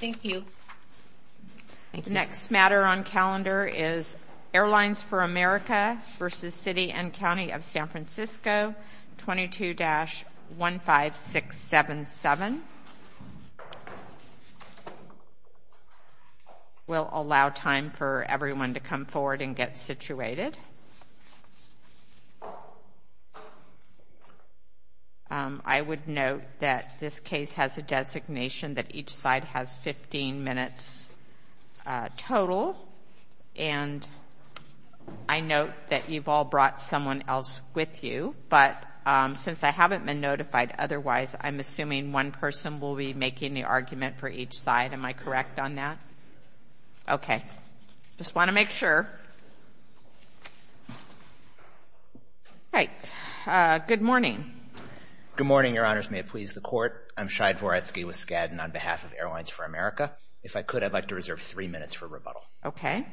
Thank you. The next matter on calendar is Airlines For America v. City and County of San Francisco, 22-15677. We'll allow time for everyone to come forward and get situated. I would note that this case has a designation that each side has 15 minutes total. And I note that you've all brought someone else with you. But since I haven't been notified otherwise, I'm assuming one person will be making the argument for each side. Am I correct on that? Okay. Just want to make sure. All right. Good morning. Good morning, Your Honors. May it please the Court. I'm Shai Dvoretsky with Skadden on behalf of Airlines For America. If I could, I'd like to reserve three minutes for rebuttal. Okay.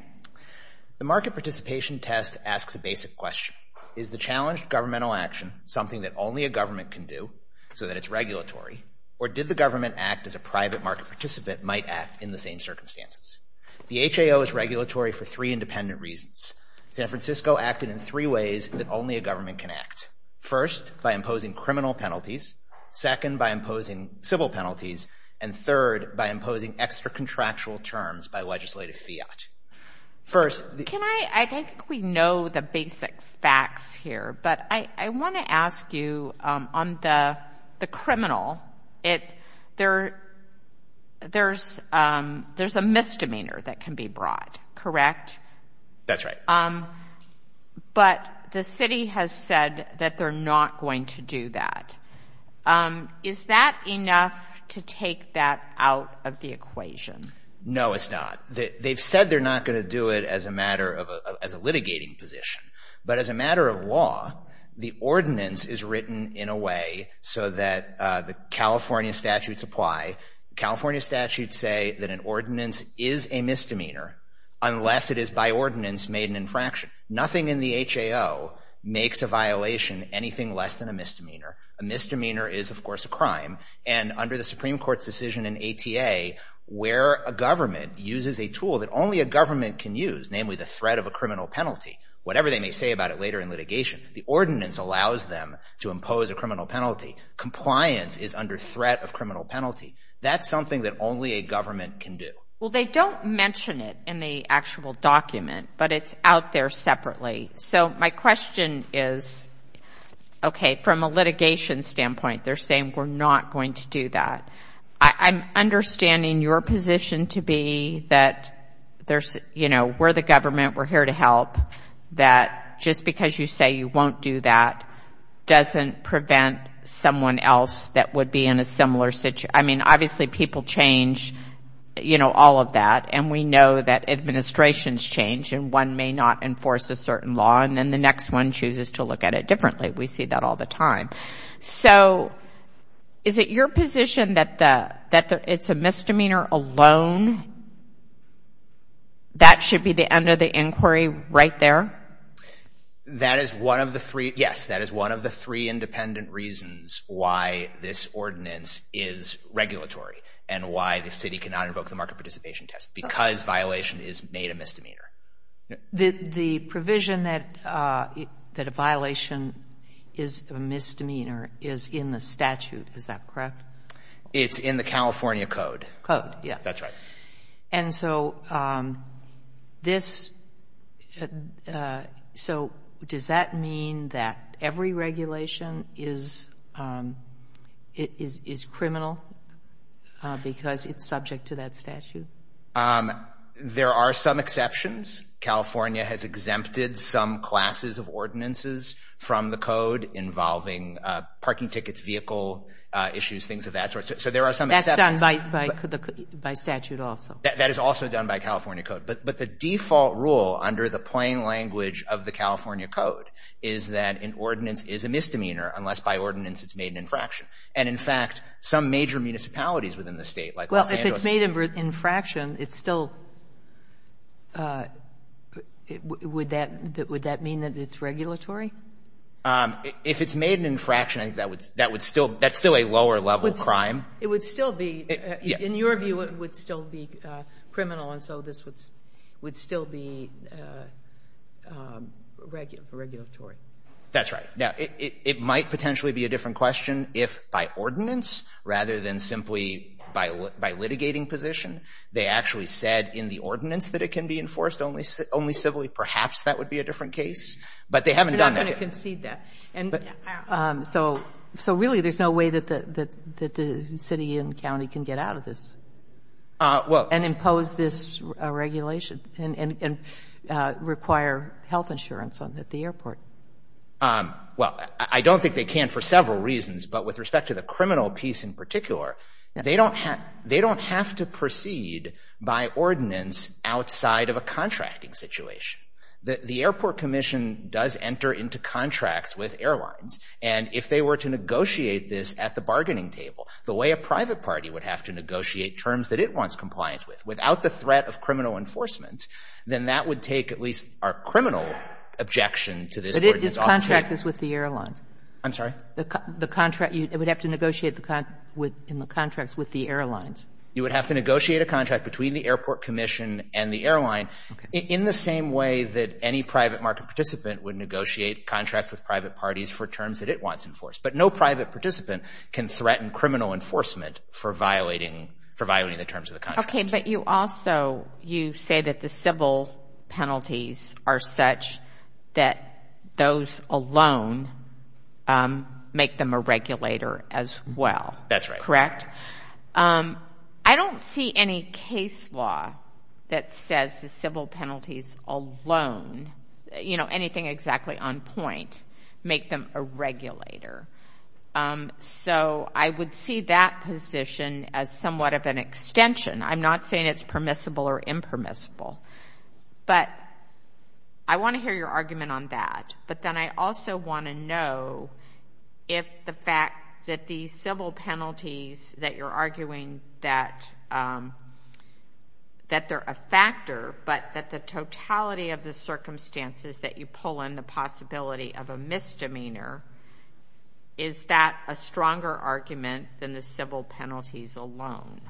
The market participation test asks a basic question. Is the challenged governmental action something that only a government can do so that it's regulatory, or did the government act as a private market participant might act in the same circumstances? The HAO is regulatory for three independent reasons. San Francisco acted in three ways that only a government can act. First, by imposing criminal penalties. Second, by imposing civil penalties. And third, by imposing extra-contractual terms by legislative fiat. First, the – Can I – I think we know the basic facts here. But I want to ask you, on the criminal, there's a misdemeanor that can be brought, correct? That's right. But the city has said that they're not going to do that. Is that enough to take that out of the equation? No, it's not. They've said they're not going to do it as a matter of – as a litigating position. But as a matter of law, the ordinance is written in a way so that the California statutes apply. The California statutes say that an ordinance is a misdemeanor unless it is by ordinance made an infraction. Nothing in the HAO makes a violation anything less than a misdemeanor. A misdemeanor is, of course, a crime. And under the Supreme Court's decision in ATA, where a government uses a tool that only a government can use, namely the threat of a criminal penalty, whatever they may say about it later in litigation, the ordinance allows them to impose a criminal penalty. Compliance is under threat of criminal penalty. That's something that only a government can do. Well, they don't mention it in the actual document, but it's out there separately. So my question is, okay, from a litigation standpoint, they're saying we're not going to do that. I'm understanding your position to be that there's, you know, we're the government, we're here to help, that just because you say you won't do that doesn't prevent someone else that would be in a similar situation. I mean, obviously people change, you know, all of that, and we know that administrations change and one may not enforce a certain law and then the next one chooses to look at it differently. We see that all the time. So is it your position that it's a misdemeanor alone? That should be the end of the inquiry right there? That is one of the three, yes, that is one of the three independent reasons why this ordinance is regulatory and why the city cannot invoke the market participation test, because violation is made a misdemeanor. The provision that a violation is a misdemeanor is in the statute, is that correct? It's in the California code. Code, yes. That's right. And so this, so does that mean that every regulation is criminal because it's subject to that statute? There are some exceptions. California has exempted some classes of ordinances from the code involving parking tickets, vehicle issues, things of that sort. So there are some exceptions. That's done by statute also. That is also done by California code. But the default rule under the plain language of the California code is that an ordinance is a misdemeanor unless by ordinance it's made an infraction. And in fact, some major municipalities within the state, like Los Angeles. If it's made an infraction, it's still, would that mean that it's regulatory? If it's made an infraction, that's still a lower level crime. It would still be, in your view, it would still be criminal, and so this would still be regulatory. That's right. Now, it might potentially be a different question if by ordinance rather than simply by litigating position, they actually said in the ordinance that it can be enforced only civilly. Perhaps that would be a different case. But they haven't done that yet. I'm not going to concede that. So really there's no way that the city and county can get out of this and impose this regulation and require health insurance at the airport. Well, I don't think they can for several reasons, but with respect to the criminal piece in particular, they don't have to proceed by ordinance outside of a contracting situation. The airport commission does enter into contracts with airlines, and if they were to negotiate this at the bargaining table, the way a private party would have to negotiate terms that it wants compliance with, without the threat of criminal enforcement, then that would take at least our criminal objection to this ordinance off the table. But its contract is with the airlines. I'm sorry? The contract you would have to negotiate in the contracts with the airlines. You would have to negotiate a contract between the airport commission and the airline in the same way that any private market participant would negotiate contracts with private parties for terms that it wants enforced. But no private participant can threaten criminal enforcement for violating the terms of the contract. Okay, but you also say that the civil penalties are such that those alone make them a regulator as well. That's right. Correct? I don't see any case law that says the civil penalties alone, anything exactly on point, make them a regulator. So I would see that position as somewhat of an extension. I'm not saying it's permissible or impermissible. But I want to hear your argument on that. But then I also want to know if the fact that the civil penalties that you're arguing that they're a factor, but that the totality of the circumstances that you pull in the possibility of a misdemeanor, is that a stronger argument than the civil penalties alone?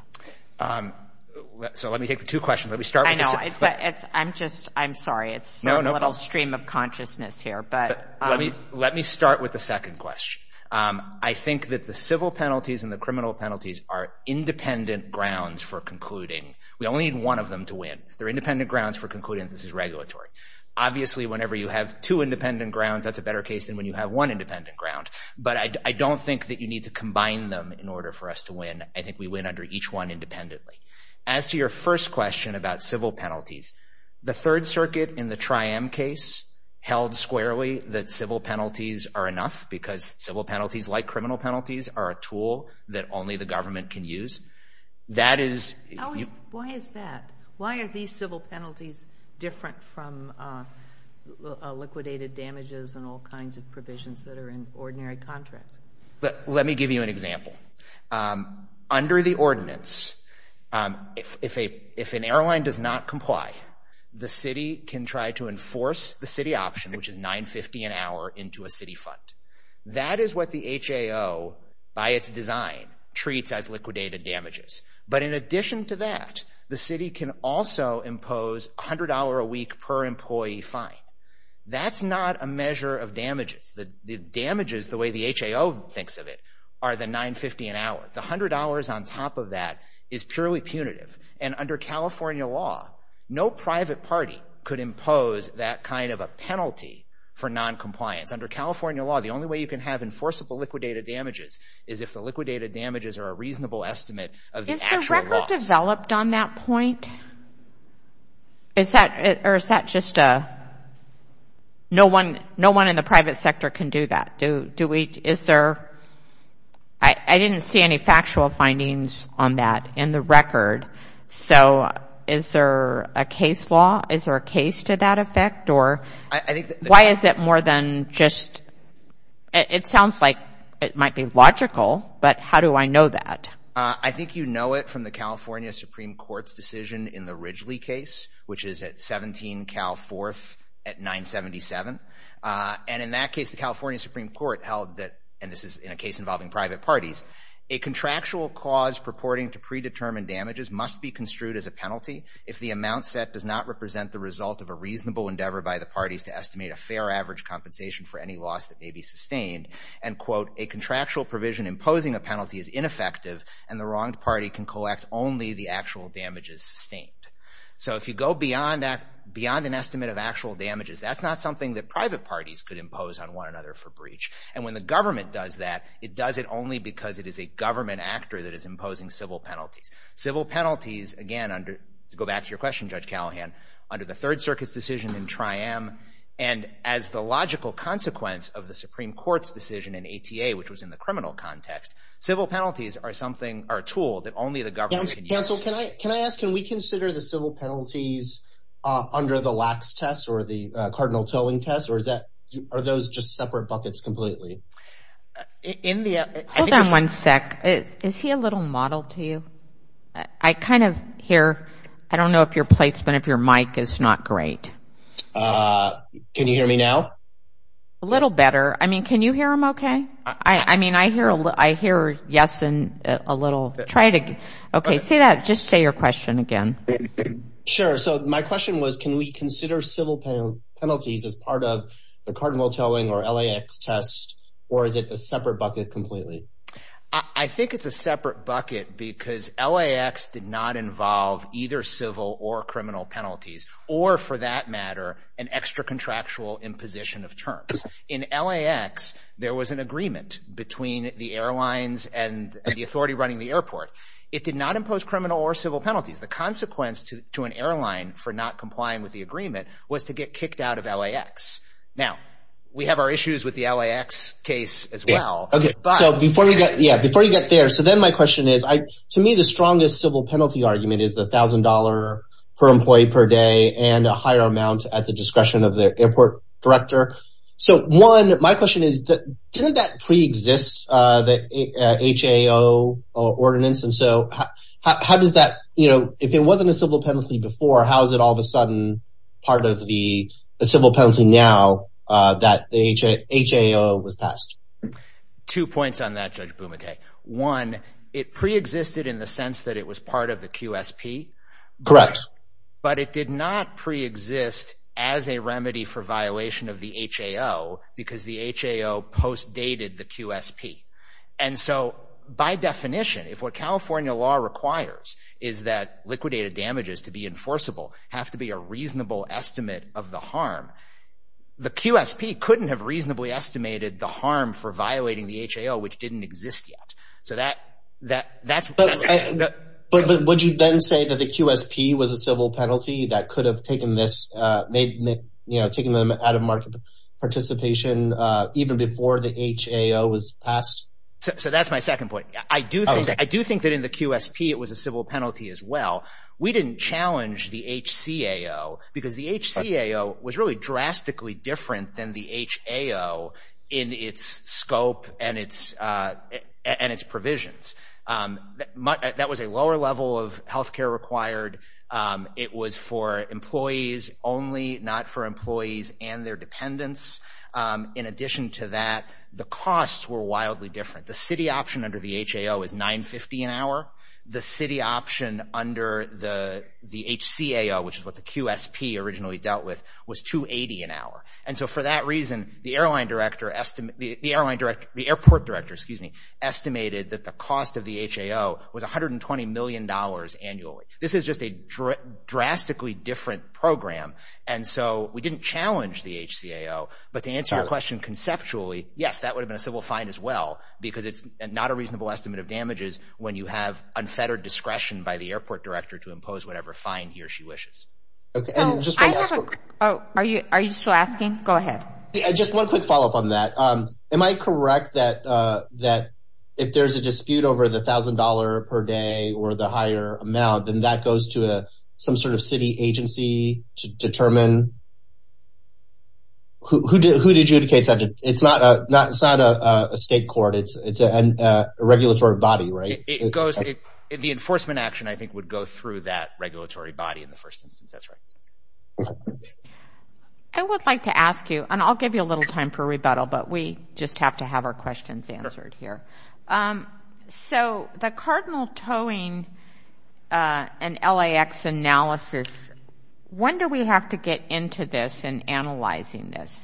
So let me take the two questions. Let me start with the second. I know. I'm sorry. It's a little stream of consciousness here. Let me start with the second question. I think that the civil penalties and the criminal penalties are independent grounds for concluding. We only need one of them to win. They're independent grounds for concluding. This is regulatory. Obviously, whenever you have two independent grounds, that's a better case than when you have one independent ground. But I don't think that you need to combine them in order for us to win. I think we win under each one independently. As to your first question about civil penalties, the Third Circuit in the Triam case held squarely that civil penalties are enough, because civil penalties, like criminal penalties, are a tool that only the government can use. Why is that? Why are these civil penalties different from liquidated damages and all kinds of provisions that are in ordinary contracts? Let me give you an example. Under the ordinance, if an airline does not comply, the city can try to enforce the city option, which is $9.50 an hour into a city fund. That is what the HAO, by its design, treats as liquidated damages. But in addition to that, the city can also impose $100 a week per employee fine. That's not a measure of damages. The damages, the way the HAO thinks of it, are the $9.50 an hour. The $100 on top of that is purely punitive. And under California law, no private party could impose that kind of a penalty for noncompliance. Under California law, the only way you can have enforceable liquidated damages is if the liquidated damages are a reasonable estimate of the actual loss. Is the record developed on that point? Or is that just a no one in the private sector can do that? Do we, is there, I didn't see any factual findings on that in the record. So is there a case law, is there a case to that effect? Why is it more than just, it sounds like it might be logical, but how do I know that? I think you know it from the California Supreme Court's decision in the Ridgely case, which is at 17 Cal 4th at 977. And in that case, the California Supreme Court held that, and this is in a case involving private parties, a contractual cause purporting to predetermined damages must be construed as a penalty if the amount set does not represent the result of a reasonable endeavor by the parties to estimate a fair average compensation for any loss that may be sustained. And quote, a contractual provision imposing a penalty is ineffective and the wronged party can collect only the actual damages sustained. So if you go beyond that, beyond an estimate of actual damages, that's not something that private parties could impose on one another for breach. And when the government does that, it does it only because it is a government actor that is imposing civil penalties. Civil penalties, again, to go back to your question, Judge Callahan, under the Third Circuit's decision in Triam, and as the logical consequence of the Supreme Court's decision in ATA, which was in the criminal context, civil penalties are a tool that only the government can use. Counsel, can I ask, can we consider the civil penalties under the Lacks test or the Cardinal Towing test, or are those just separate buckets completely? Hold on one sec. Is he a little mottled to you? I kind of hear, I don't know if your placement of your mic is not great. Can you hear me now? A little better. I mean, can you hear him okay? I mean, I hear yes and a little. Okay, say that, just say your question again. Sure. So my question was, can we consider civil penalties as part of the Cardinal Towing or LAX test, or is it a separate bucket completely? I think it's a separate bucket because LAX did not involve either civil or criminal penalties, or for that matter, an extra-contractual imposition of terms. In LAX, there was an agreement between the airlines and the authority running the airport. It did not impose criminal or civil penalties. The consequence to an airline for not complying with the agreement was to get kicked out of LAX. Now, we have our issues with the LAX case as well. Okay, so before you get there, so then my question is, to me the strongest civil penalty argument is the $1,000 per employee per day and a higher amount at the discretion of the airport director. So one, my question is, didn't that preexist, the HAO ordinance? And so how does that, if it wasn't a civil penalty before, how is it all of a sudden part of the civil penalty now that the HAO was passed? Two points on that, Judge Bumate. One, it preexisted in the sense that it was part of the QSP. Correct. But it did not preexist as a remedy for violation of the HAO because the HAO post-dated the QSP. And so by definition, if what California law requires is that liquidated damages to be enforceable have to be a reasonable estimate of the harm, the QSP couldn't have reasonably estimated the harm for violating the HAO, which didn't exist yet. So that's what I'm saying. But would you then say that the QSP was a civil penalty that could have taken this, you know, taken them out of market participation even before the HAO was passed? So that's my second point. I do think that in the QSP it was a civil penalty as well. We didn't challenge the HCAO because the HCAO was really drastically different than the HAO in its scope and its provisions. That was a lower level of health care required. It was for employees only, not for employees and their dependents. In addition to that, the costs were wildly different. The city option under the HAO is $9.50 an hour. The city option under the HCAO, which is what the QSP originally dealt with, was $2.80 an hour. And so for that reason, the airport director estimated that the cost of the HAO was $120 million annually. This is just a drastically different program. And so we didn't challenge the HCAO. But to answer your question conceptually, yes, that would have been a civil fine as well because it's not a reasonable estimate of damages when you have unfettered discretion by the airport director to impose whatever fine he or she wishes. Are you still asking? Go ahead. Just one quick follow-up on that. Am I correct that if there's a dispute over the $1,000 per day or the higher amount, then that goes to some sort of city agency to determine who to adjudicate? It's not a state court. It's a regulatory body, right? The enforcement action, I think, would go through that regulatory body in the first instance. That's right. I would like to ask you, and I'll give you a little time for rebuttal, but we just have to have our questions answered here. So the cardinal towing and LAX analysis, when do we have to get into this and analyzing this?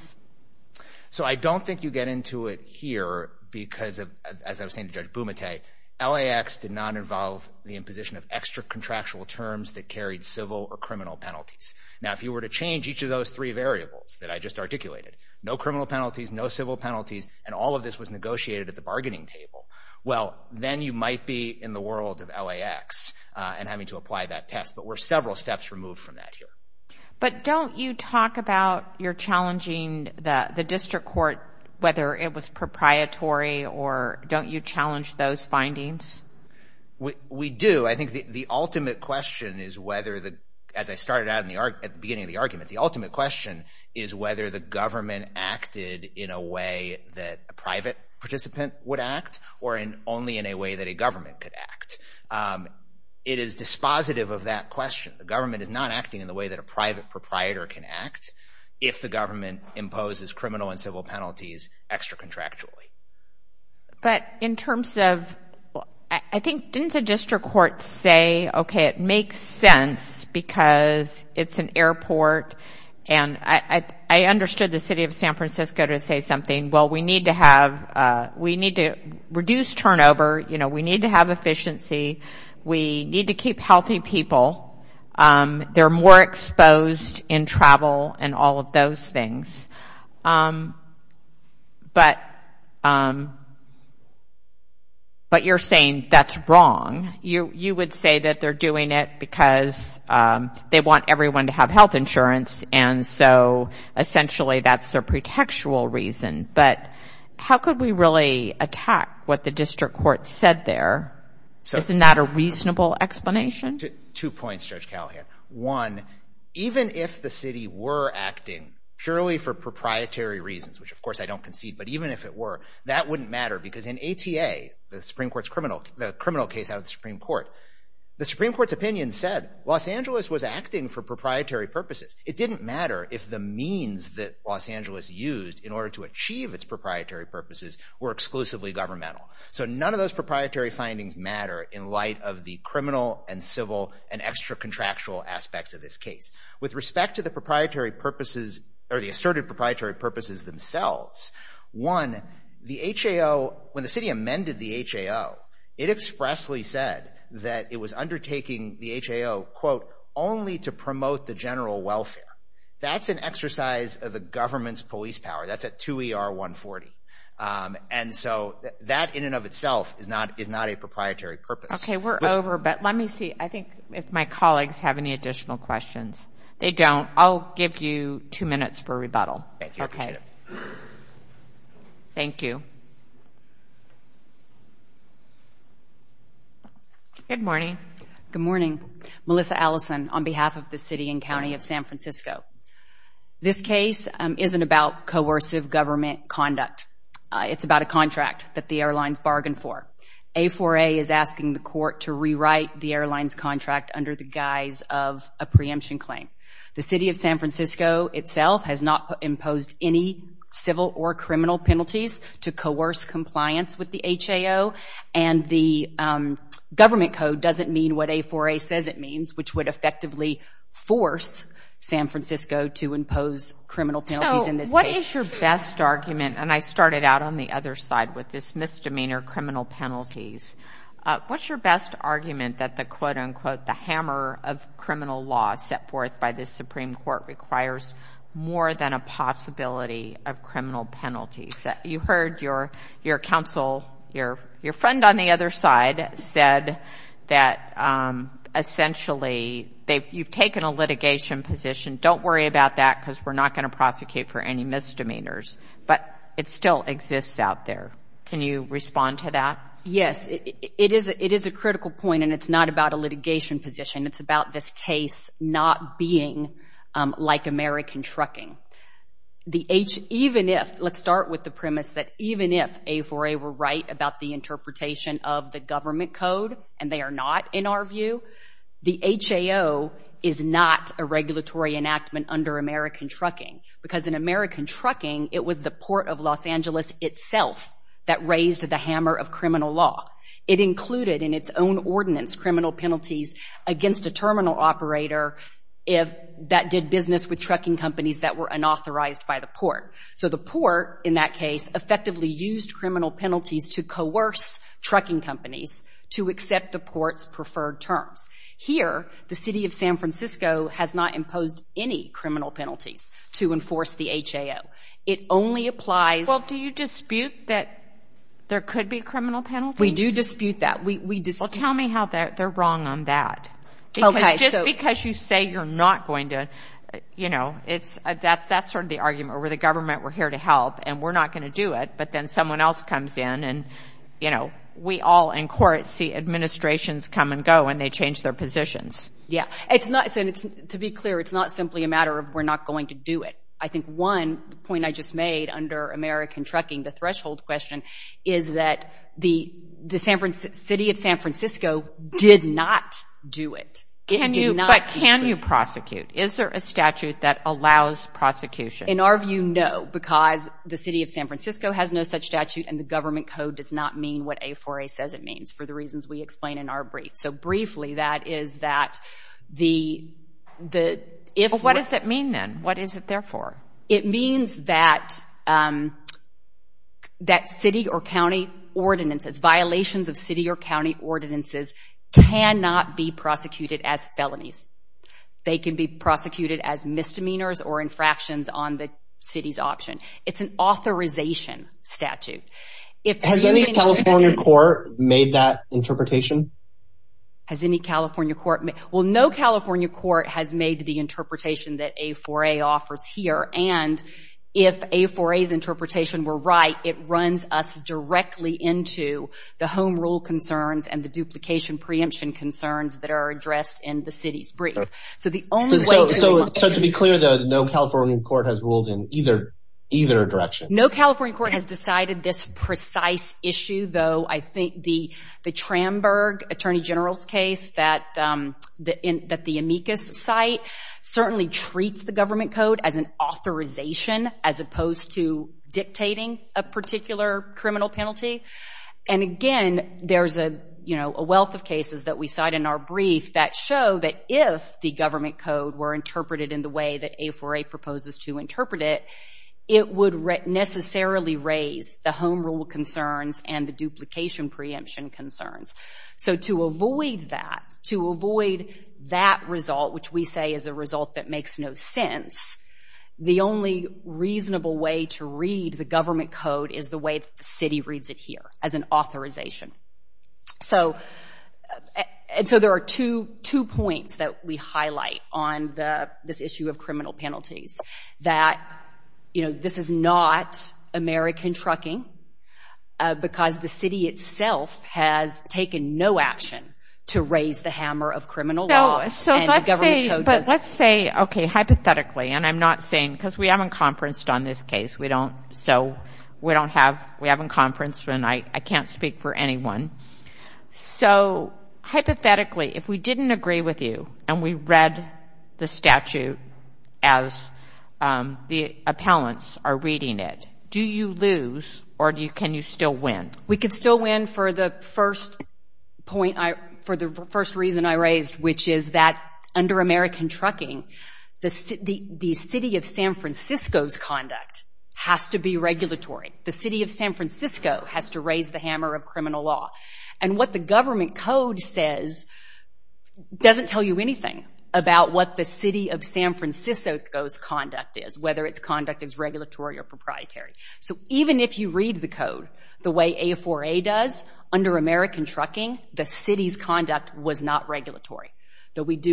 So I don't think you get into it here because, as I was saying to Judge Bumate, LAX did not involve the imposition of extra-contractual terms that carried civil or criminal penalties. Now, if you were to change each of those three variables that I just articulated, no criminal penalties, no civil penalties, and all of this was negotiated at the bargaining table, well, then you might be in the world of LAX and having to apply that test. But we're several steps removed from that here. But don't you talk about your challenging the district court, whether it was proprietary, or don't you challenge those findings? We do. I think the ultimate question is whether, as I started out at the beginning of the argument, the ultimate question is whether the government acted in a way that a private participant would act or only in a way that a government could act. It is dispositive of that question. The government is not acting in the way that a private proprietor can act if the government imposes criminal and civil penalties extra-contractually. But in terms of, I think, didn't the district court say, okay, it makes sense because it's an airport, and I understood the city of San Francisco to say something, well, we need to have, we need to reduce turnover, you know, we need to have efficiency, we need to keep healthy people. They're more exposed in travel and all of those things. But you're saying that's wrong. You would say that they're doing it because they want everyone to have health insurance, and so essentially that's their pretextual reason. But how could we really attack what the district court said there? Isn't that a reasonable explanation? Two points, Judge Callahan. One, even if the city were acting purely for proprietary reasons, which of course I don't concede, but even if it were, that wouldn't matter because in ATA, the criminal case out of the Supreme Court, the Supreme Court's opinion said Los Angeles was acting for proprietary purposes. It didn't matter if the means that Los Angeles used in order to achieve its proprietary purposes were exclusively governmental. So none of those proprietary findings matter in light of the criminal and civil and extra-contractual aspects of this case. With respect to the proprietary purposes or the asserted proprietary purposes themselves, one, the HAO, when the city amended the HAO, it expressly said that it was undertaking the HAO, quote, only to promote the general welfare. That's an exercise of the government's police power. That's a 2ER140. And so that in and of itself is not a proprietary purpose. Okay, we're over, but let me see. I think if my colleagues have any additional questions. They don't. I'll give you two minutes for rebuttal. Okay. Thank you. Good morning. Good morning. Melissa Allison on behalf of the city and county of San Francisco. This case isn't about coercive government conduct. It's about a contract that the airlines bargained for. A4A is asking the court to rewrite the airline's contract under the guise of a preemption claim. The city of San Francisco itself has not imposed any civil or criminal penalties to coerce compliance with the HAO, and the government code doesn't mean what A4A says it means, which would effectively force San Francisco to impose criminal penalties in this case. So what is your best argument? And I started out on the other side with this misdemeanor criminal penalties. What's your best argument that the, quote, unquote, the hammer of criminal law set forth by the Supreme Court requires more than a possibility of criminal penalties? You heard your counsel, your friend on the other side, said that essentially you've taken a litigation position. Don't worry about that because we're not going to prosecute for any misdemeanors. But it still exists out there. Can you respond to that? Yes. It is a critical point, and it's not about a litigation position. It's about this case not being like American trucking. Even if, let's start with the premise that even if A4A were right about the interpretation of the government code, and they are not in our view, the HAO is not a regulatory enactment under American trucking because in American trucking it was the Port of Los Angeles itself that raised the hammer of criminal law. It included in its own ordinance criminal penalties against a terminal operator that did business with trucking companies that were unauthorized by the port. So the port, in that case, effectively used criminal penalties to coerce trucking companies to accept the port's preferred terms. Here, the city of San Francisco has not imposed any criminal penalties to enforce the HAO. It only applies— Well, do you dispute that there could be criminal penalties? We do dispute that. Well, tell me how they're wrong on that. Just because you say you're not going to, you know, that's sort of the argument where the government were here to help and we're not going to do it, but then someone else comes in and, you know, we all in court see administrations come and go and they change their positions. Yeah. To be clear, it's not simply a matter of we're not going to do it. I think one point I just made under American trucking, the threshold question, is that the city of San Francisco did not do it. It did not do it. But can you prosecute? Is there a statute that allows prosecution? In our view, no, because the city of San Francisco has no such statute and the government code does not mean what A4A says it means for the reasons we explain in our brief. So briefly, that is that the— Well, what does it mean then? What is it there for? It means that city or county ordinances, violations of city or county ordinances, cannot be prosecuted as felonies. They can be prosecuted as misdemeanors or infractions on the city's option. It's an authorization statute. Has any California court made that interpretation? Has any California court— Well, no California court has made the interpretation that A4A offers here, and if A4A's interpretation were right, it runs us directly into the home rule concerns and the duplication preemption concerns that are addressed in the city's brief. So the only way to— So to be clear, no California court has ruled in either direction? No California court has decided this precise issue, though I think the Tramburg Attorney General's case that the amicus cite certainly treats the government code as an authorization as opposed to dictating a particular criminal penalty. And again, there's a wealth of cases that we cite in our brief that show that if the government code were interpreted in the way that A4A proposes to interpret it, it would necessarily raise the home rule concerns and the duplication preemption concerns. So to avoid that, to avoid that result, which we say is a result that makes no sense, the only reasonable way to read the government code is the way that the city reads it here as an authorization. So there are two points that we highlight on this issue of criminal penalties that, you know, this is not American trucking because the city itself has taken no action to raise the hammer of criminal law. So let's say—but let's say, okay, hypothetically, and I'm not saying— because we haven't conferenced on this case. We don't—so we don't have—we haven't conferenced, and I can't speak for anyone. So hypothetically, if we didn't agree with you and we read the statute as the appellants are reading it, do you lose or can you still win? We could still win for the first point—for the first reason I raised, which is that under American trucking, the city of San Francisco's conduct has to be regulatory. The city of San Francisco has to raise the hammer of criminal law. And what the government code says doesn't tell you anything about what the city of San Francisco's conduct is, whether its conduct is regulatory or proprietary. So even if you read the code the way A4A does, under American trucking, the city's conduct was not regulatory. But can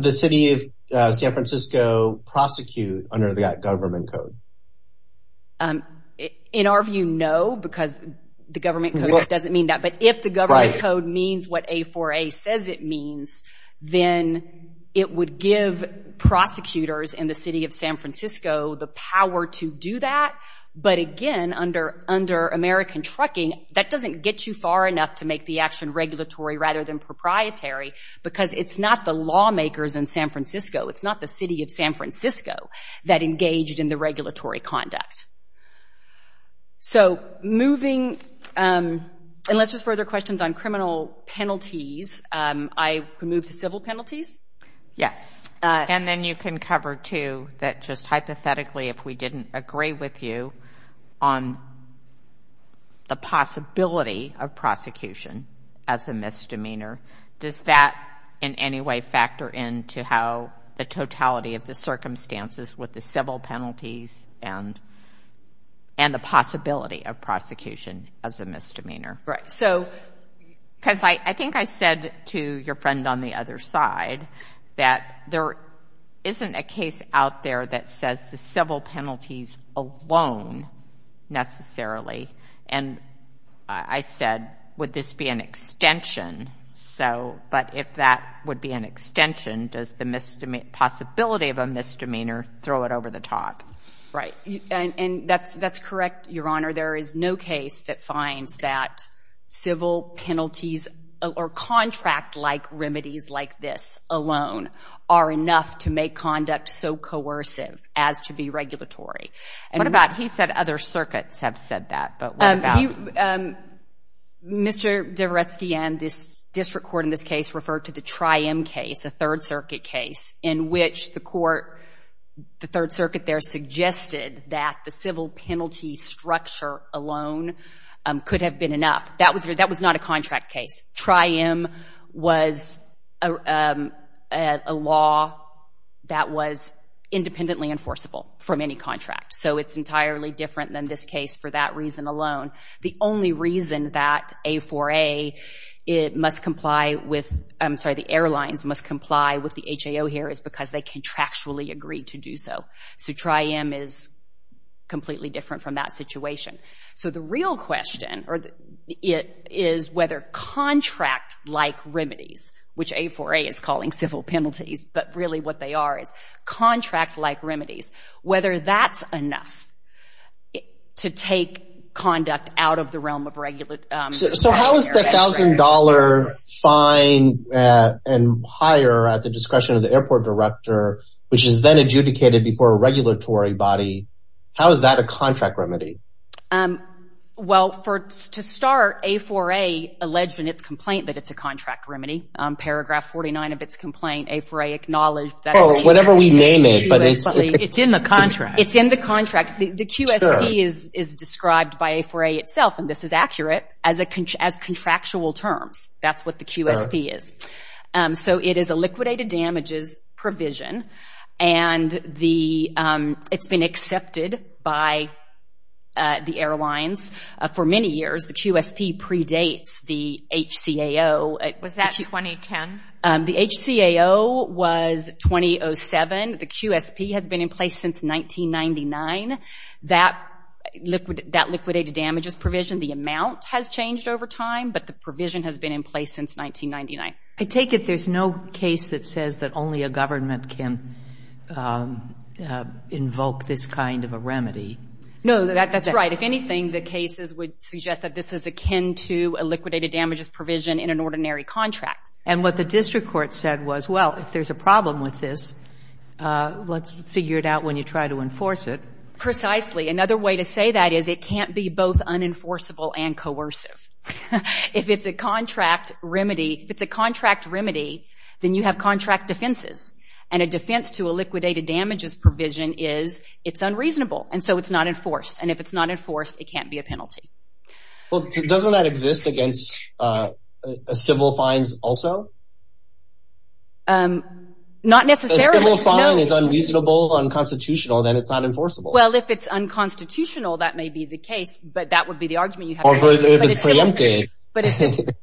the city of San Francisco prosecute under that government code? In our view, no, because the government code doesn't mean that. But if the government code means what A4A says it means, then it would give prosecutors in the city of San Francisco the power to do that. But again, under American trucking, that doesn't get you far enough to make the action regulatory rather than proprietary because it's not the lawmakers in San Francisco, it's not the city of San Francisco that engaged in the regulatory conduct. So moving—unless there's further questions on criminal penalties, I can move to civil penalties? Yes, and then you can cover, too, that just hypothetically, if we didn't agree with you on the possibility of prosecution as a misdemeanor. Does that in any way factor into how the totality of the circumstances with the civil penalties and the possibility of prosecution as a misdemeanor? Right. So because I think I said to your friend on the other side that there isn't a case out there that says the civil penalties alone necessarily. And I said, would this be an extension? So, but if that would be an extension, does the possibility of a misdemeanor throw it over the top? Right. And that's correct, Your Honor. There is no case that finds that civil penalties or contract-like remedies like this alone are enough to make conduct so coercive as to be regulatory. What about—he said other circuits have said that, but what about— Mr. Dvoretsky and this district court in this case referred to the Tri-M case, a Third Circuit case, in which the court, the Third Circuit there, the structure alone could have been enough. That was not a contract case. Tri-M was a law that was independently enforceable from any contract. So it's entirely different than this case for that reason alone. The only reason that A4A must comply with— I'm sorry, the airlines must comply with the HAO here is because they contractually agreed to do so. So Tri-M is completely different from that situation. So the real question is whether contract-like remedies, which A4A is calling civil penalties, but really what they are is contract-like remedies, whether that's enough to take conduct out of the realm of— So how is the $1,000 fine and higher at the discretion of the airport director, which is then adjudicated before a regulatory body, how is that a contract remedy? Well, to start, A4A alleged in its complaint that it's a contract remedy. Paragraph 49 of its complaint, A4A acknowledged that— Oh, whatever we name it, but it's— It's in the contract. It's in the contract. The QSP is described by A4A itself, and this is accurate, as contractual terms. That's what the QSP is. So it is a liquidated damages provision, and it's been accepted by the airlines. For many years, the QSP predates the HCAO. Was that 2010? The HCAO was 2007. The QSP has been in place since 1999. That liquidated damages provision, the amount has changed over time, but the provision has been in place since 1999. I take it there's no case that says that only a government can invoke this kind of a remedy. No, that's right. If anything, the cases would suggest that this is akin to a liquidated damages provision in an ordinary contract. And what the district court said was, well, if there's a problem with this, let's figure it out when you try to enforce it. Precisely. Another way to say that is it can't be both unenforceable and coercive. If it's a contract remedy, then you have contract defenses, and a defense to a liquidated damages provision is it's unreasonable, and so it's not enforced. And if it's not enforced, it can't be a penalty. Well, doesn't that exist against civil fines also? Not necessarily. If a civil fine is unreasonable, unconstitutional, then it's unenforceable. Well, if it's unconstitutional, that may be the case, but that would be the argument you have. Or if it's preempted.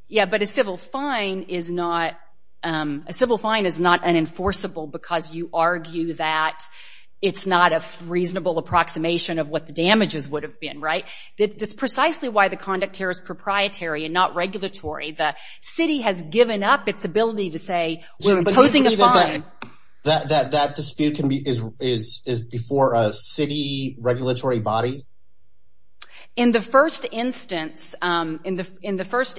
Yeah, but a civil fine is not unenforceable because you argue that it's not a reasonable approximation of what the damages would have been, right? That's precisely why the conduct here is proprietary and not regulatory. The city has given up its ability to say we're imposing a fine. That dispute is before a city regulatory body? In the first instance, yes,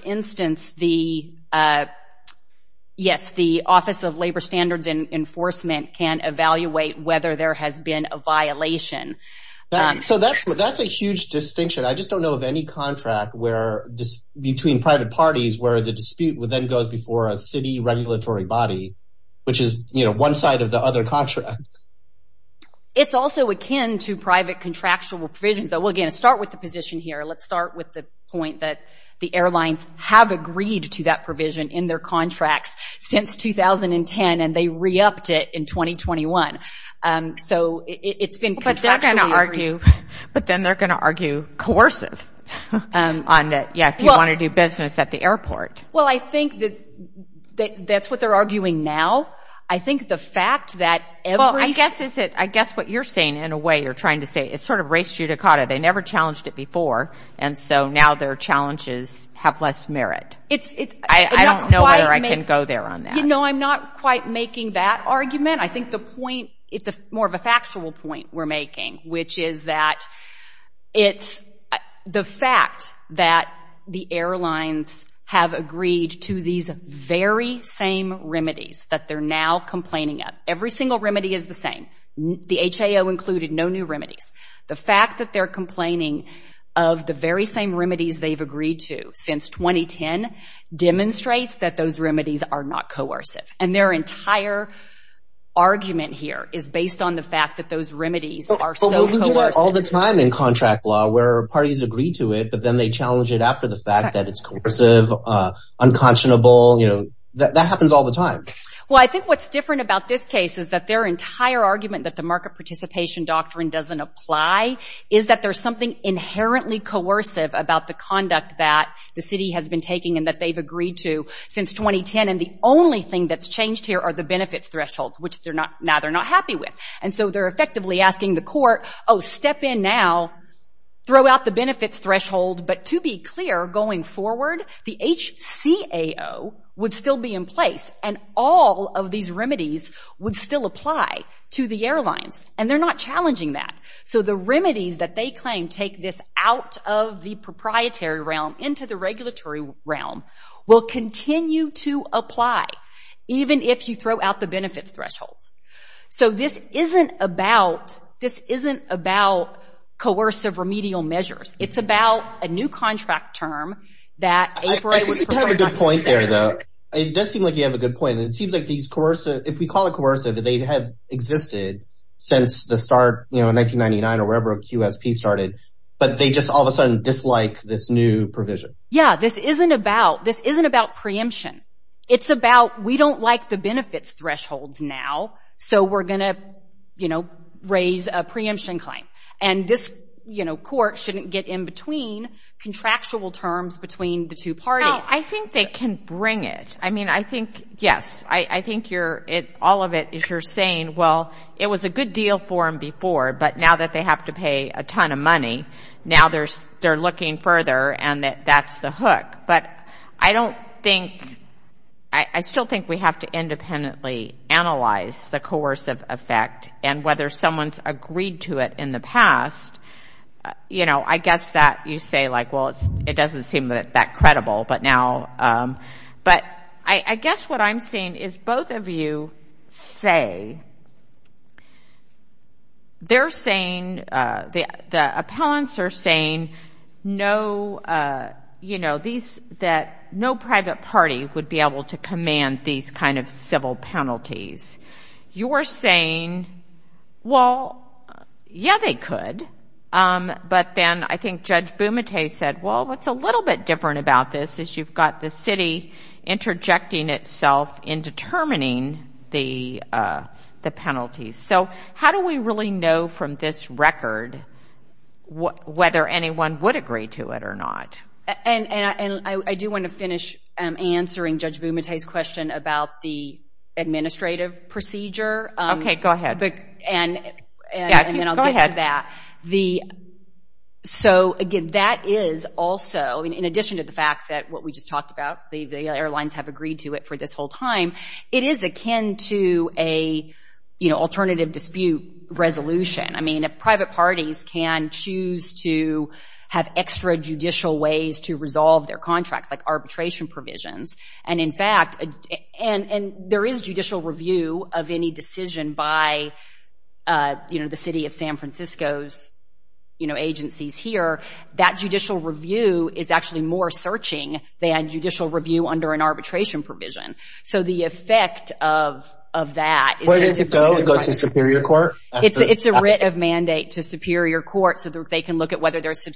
the Office of Labor Standards and Enforcement can evaluate whether there has been a violation. So that's a huge distinction. I just don't know of any contract between private parties where the dispute then goes before a city regulatory body, which is one side of the other contract. It's also akin to private contractual provisions, though. We'll, again, start with the position here. Let's start with the point that the airlines have agreed to that provision in their contracts since 2010, and they re-upped it in 2021. So it's been contractually agreed. But then they're going to argue coercive on that, yeah, if you want to do business at the airport. Well, I think that's what they're arguing now. Well, I guess what you're saying in a way, you're trying to say it's sort of race judicata. They never challenged it before, and so now their challenges have less merit. I don't know whether I can go there on that. No, I'm not quite making that argument. I think the point, it's more of a factual point we're making, which is that it's the fact that the airlines have agreed to these very same remedies that they're now complaining of. Every single remedy is the same. The HAO included no new remedies. The fact that they're complaining of the very same remedies they've agreed to since 2010 demonstrates that those remedies are not coercive. And their entire argument here is based on the fact that those remedies are so coercive. But we do that all the time in contract law where parties agree to it, but then they challenge it after the fact that it's coercive, unconscionable. That happens all the time. Well, I think what's different about this case is that their entire argument that the market participation doctrine doesn't apply is that there's something inherently coercive about the conduct that the city has been taking and that they've agreed to since 2010. And the only thing that's changed here are the benefits thresholds, which now they're not happy with. And so they're effectively asking the court, oh, step in now, throw out the benefits threshold. But to be clear, going forward, the HCAO would still be in place and all of these remedies would still apply to the airlines. And they're not challenging that. So the remedies that they claim take this out of the proprietary realm into the regulatory realm will continue to apply, even if you throw out the benefits thresholds. So this isn't about coercive remedial measures. It's about a new contract term that A4I would prefer not to use. I think you have a good point there, though. It does seem like you have a good point. If we call it coercive, they have existed since the start in 1999 or wherever QSP started, but they just all of a sudden dislike this new provision. Yeah, this isn't about preemption. It's about we don't like the benefits thresholds now, so we're going to raise a preemption claim. And this court shouldn't get in between contractual terms between the two parties. I think they can bring it. I mean, I think, yes, I think all of it is you're saying, well, it was a good deal for them before, but now that they have to pay a ton of money, now they're looking further and that's the hook. But I don't think, I still think we have to independently analyze the coercive effect and whether someone's agreed to it in the past. You know, I guess that you say, like, well, it doesn't seem that credible. But now, but I guess what I'm seeing is both of you say they're saying, the appellants are saying no, you know, that no private party would be able to command these kind of civil penalties. You're saying, well, yeah, they could. But then I think Judge Bumate said, well, what's a little bit different about this is you've got the city interjecting itself in determining the penalties. So how do we really know from this record whether anyone would agree to it or not? And I do want to finish answering Judge Bumate's question about the administrative procedure. Okay, go ahead. And then I'll get to that. So, again, that is also, in addition to the fact that what we just talked about, the airlines have agreed to it for this whole time, it is akin to a, you know, alternative dispute resolution. I mean, private parties can choose to have extrajudicial ways to resolve their contracts, like arbitration provisions. And, in fact, there is judicial review of any decision by, you know, the city of San Francisco's, you know, agencies here. That judicial review is actually more searching than judicial review under an arbitration provision. So the effect of that is that it's a writ of mandate to superior court so they can look at whether there's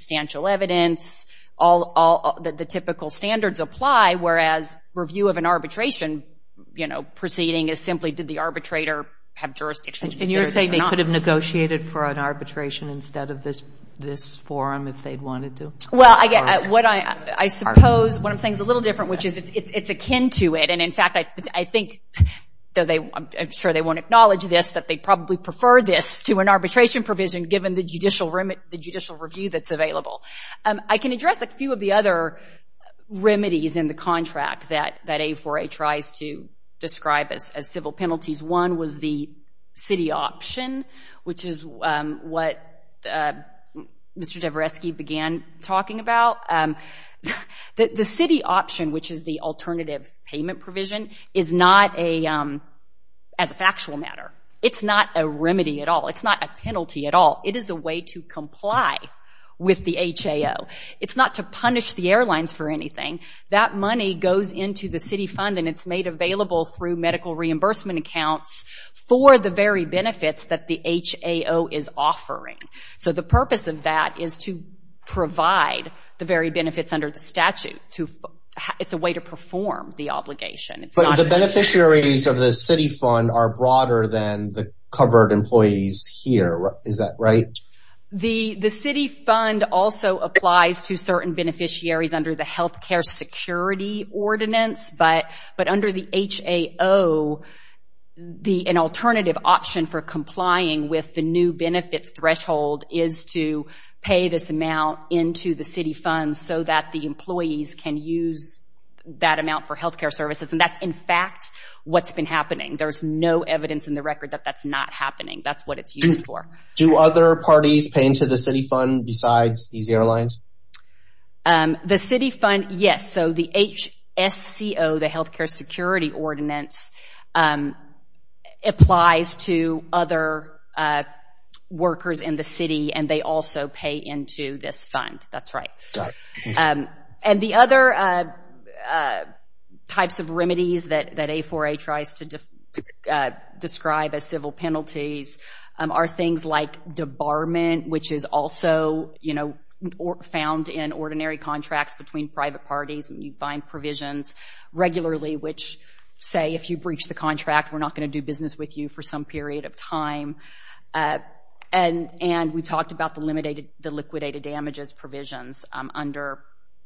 review of an arbitration, you know, proceeding as simply did the arbitrator have jurisdiction. And you're saying they could have negotiated for an arbitration instead of this forum if they wanted to? Well, I suppose what I'm saying is a little different, which is it's akin to it. And, in fact, I think, though I'm sure they won't acknowledge this, that they probably prefer this to an arbitration provision given the judicial review that's available. I can address a few of the other remedies in the contract that A4A tries to describe as civil penalties. One was the city option, which is what Mr. Javreski began talking about. The city option, which is the alternative payment provision, is not a, as a factual matter, it's not a remedy at all. It's not a penalty at all. It is a way to comply with the HAO. It's not to punish the airlines for anything. That money goes into the city fund and it's made available through medical reimbursement accounts for the very benefits that the HAO is offering. So the purpose of that is to provide the very benefits under the statute. It's a way to perform the obligation. But the beneficiaries of the city fund are broader than the covered employees here. Is that right? The city fund also applies to certain beneficiaries under the health care security ordinance. But under the HAO, an alternative option for complying with the new benefit threshold is to pay this amount into the city fund so that the employees can use that amount for health care services. And that's, in fact, what's been happening. There's no evidence in the record that that's not happening. That's what it's used for. Do other parties pay into the city fund besides these airlines? The city fund, yes. So the HSCO, the health care security ordinance, applies to other workers in the city and they also pay into this fund. That's right. And the other types of remedies that A4A tries to describe as civil penalties are things like debarment, which is also found in ordinary contracts between private parties and you find provisions regularly which say if you breach the contract, we're not going to do business with you for some period of time. And we talked about the liquidated damages provisions under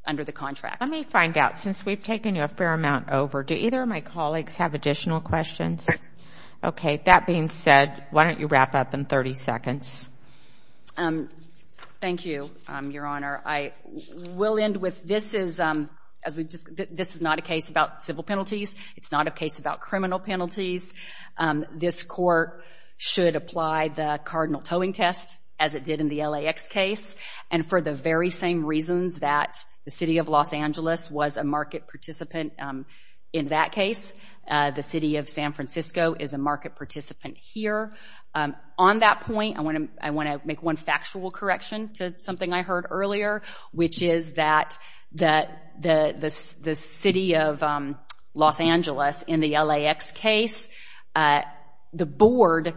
the contract. Let me find out. Since we've taken a fair amount over, do either of my colleagues have additional questions? Yes. Okay. That being said, why don't you wrap up in 30 seconds? Thank you, Your Honor. I will end with this is not a case about civil penalties. It's not a case about criminal penalties. This court should apply the cardinal towing test as it did in the LAX case, and for the very same reasons that the city of Los Angeles was a market participant in that case, the city of San Francisco is a market participant here. On that point, I want to make one factual correction to something I heard earlier, which is that the city of Los Angeles in the LAX case, the board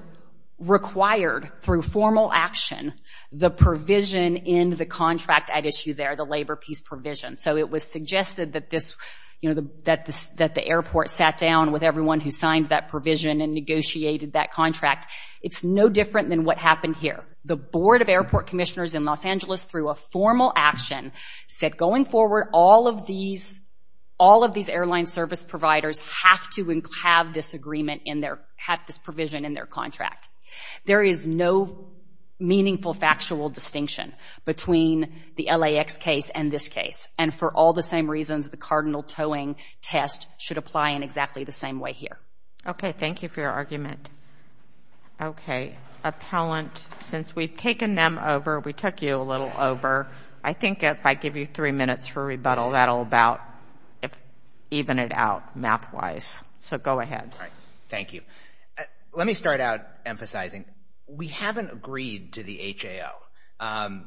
required through formal action the provision in the contract at issue there, the labor peace provision. So it was suggested that the airport sat down with everyone who signed that provision and negotiated that contract. It's no different than what happened here. The board of airport commissioners in Los Angeles, through a formal action, said going forward, all of these airline service providers have to have this agreement in their, have this provision in their contract. There is no meaningful factual distinction between the LAX case and this case, and for all the same reasons, the cardinal towing test should apply in exactly the same way here. Okay. Thank you for your argument. Okay. Appellant, since we've taken them over, we took you a little over, I think if I give you three minutes for rebuttal, that'll about even it out math-wise. So go ahead. All right. Thank you. Let me start out emphasizing, we haven't agreed to the HAO.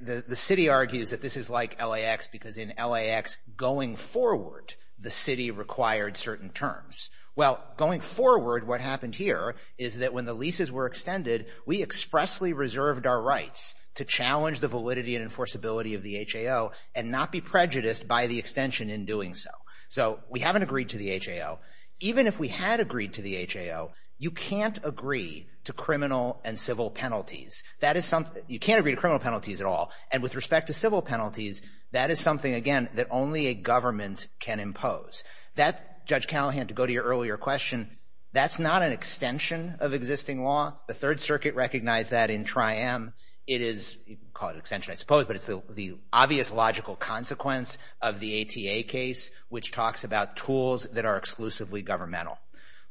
The city argues that this is like LAX because in LAX, going forward, the city required certain terms. Well, going forward, what happened here is that when the leases were extended, we expressly reserved our rights to challenge the validity and enforceability of the HAO and not be prejudiced by the extension in doing so. So we haven't agreed to the HAO. Even if we had agreed to the HAO, you can't agree to criminal and civil penalties. That is something, you can't agree to criminal penalties at all, and with respect to civil penalties, that is something, again, that only a government can impose. That, Judge Callahan, to go to your earlier question, that's not an extension of existing law. The Third Circuit recognized that in TRIAM. It is called an extension, I suppose, but it's the obvious logical consequence of the ATA case, which talks about tools that are exclusively governmental.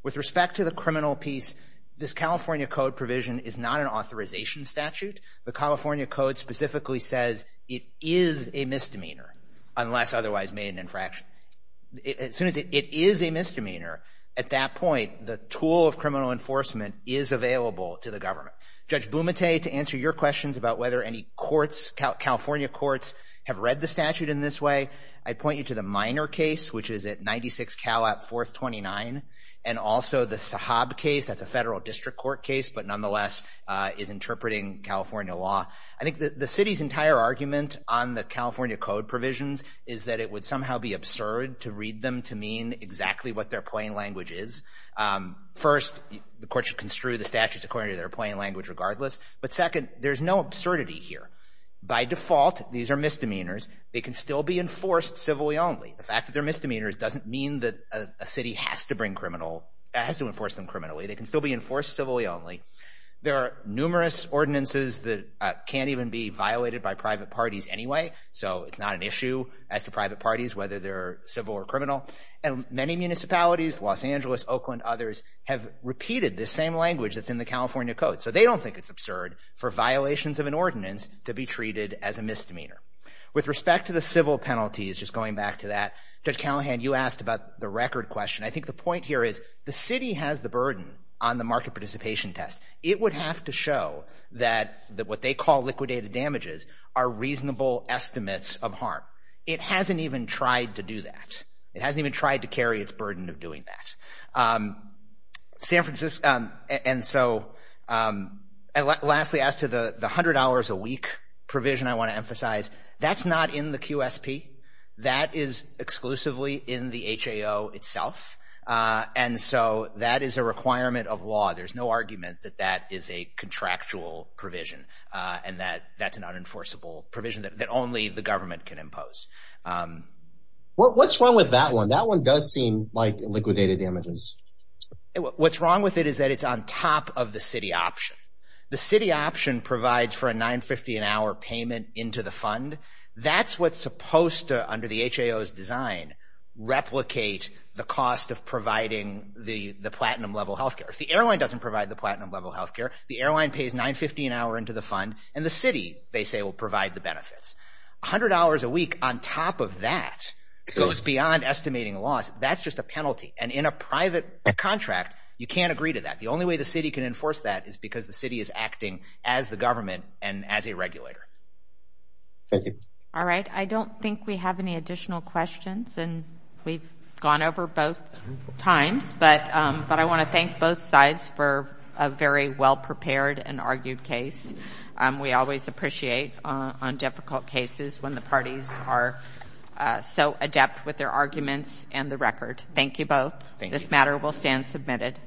With respect to the criminal piece, this California Code provision is not an authorization statute. The California Code specifically says it is a misdemeanor unless otherwise made an infraction. As soon as it is a misdemeanor, at that point, the tool of criminal enforcement is available to the government. Judge Bumate, to answer your questions about whether any courts, California courts, have read the statute in this way, I'd point you to the Minor case, which is at 96 Calat 429, and also the Sahab case. That's a federal district court case, but nonetheless is interpreting California law. I think the city's entire argument on the California Code provisions is that it would somehow be absurd to read them to mean exactly what their plain language is. First, the court should construe the statutes according to their plain language regardless, but second, there's no absurdity here. By default, these are misdemeanors. They can still be enforced civilly only. The fact that they're misdemeanors doesn't mean that a city has to bring criminal, has to enforce them criminally. They can still be enforced civilly only. There are numerous ordinances that can't even be violated by private parties anyway, so it's not an issue as to private parties, whether they're civil or criminal. And many municipalities, Los Angeles, Oakland, others, have repeated this same language that's in the California Code, so they don't think it's absurd for violations of an ordinance to be treated as a misdemeanor. With respect to the civil penalties, just going back to that, Judge Callahan, you asked about the record question. I think the point here is the city has the burden on the market participation test. It would have to show that what they call liquidated damages are reasonable estimates of harm. It hasn't even tried to do that. It hasn't even tried to carry its burden of doing that. San Francisco, and so lastly, as to the $100 a week provision I want to emphasize, that's not in the QSP. That is exclusively in the HAO itself, and so that is a requirement of law. There's no argument that that is a contractual provision and that that's an unenforceable provision that only the government can impose. What's wrong with that one? That one does seem like liquidated damages. What's wrong with it is that it's on top of the city option. The city option provides for a $9.50 an hour payment into the fund. That's what's supposed to, under the HAO's design, replicate the cost of providing the platinum-level health care. If the airline doesn't provide the platinum-level health care, the airline pays $9.50 an hour into the fund, and the city, they say, will provide the benefits. $100 a week on top of that goes beyond estimating loss. That's just a penalty, and in a private contract, you can't agree to that. The only way the city can enforce that is because the city is acting as the government and as a regulator. Thank you. All right. I don't think we have any additional questions, and we've gone over both times, but I want to thank both sides for a very well-prepared and argued case. We always appreciate on difficult cases when the parties are so adept with their arguments and the record. Thank you both. This matter will stand submitted.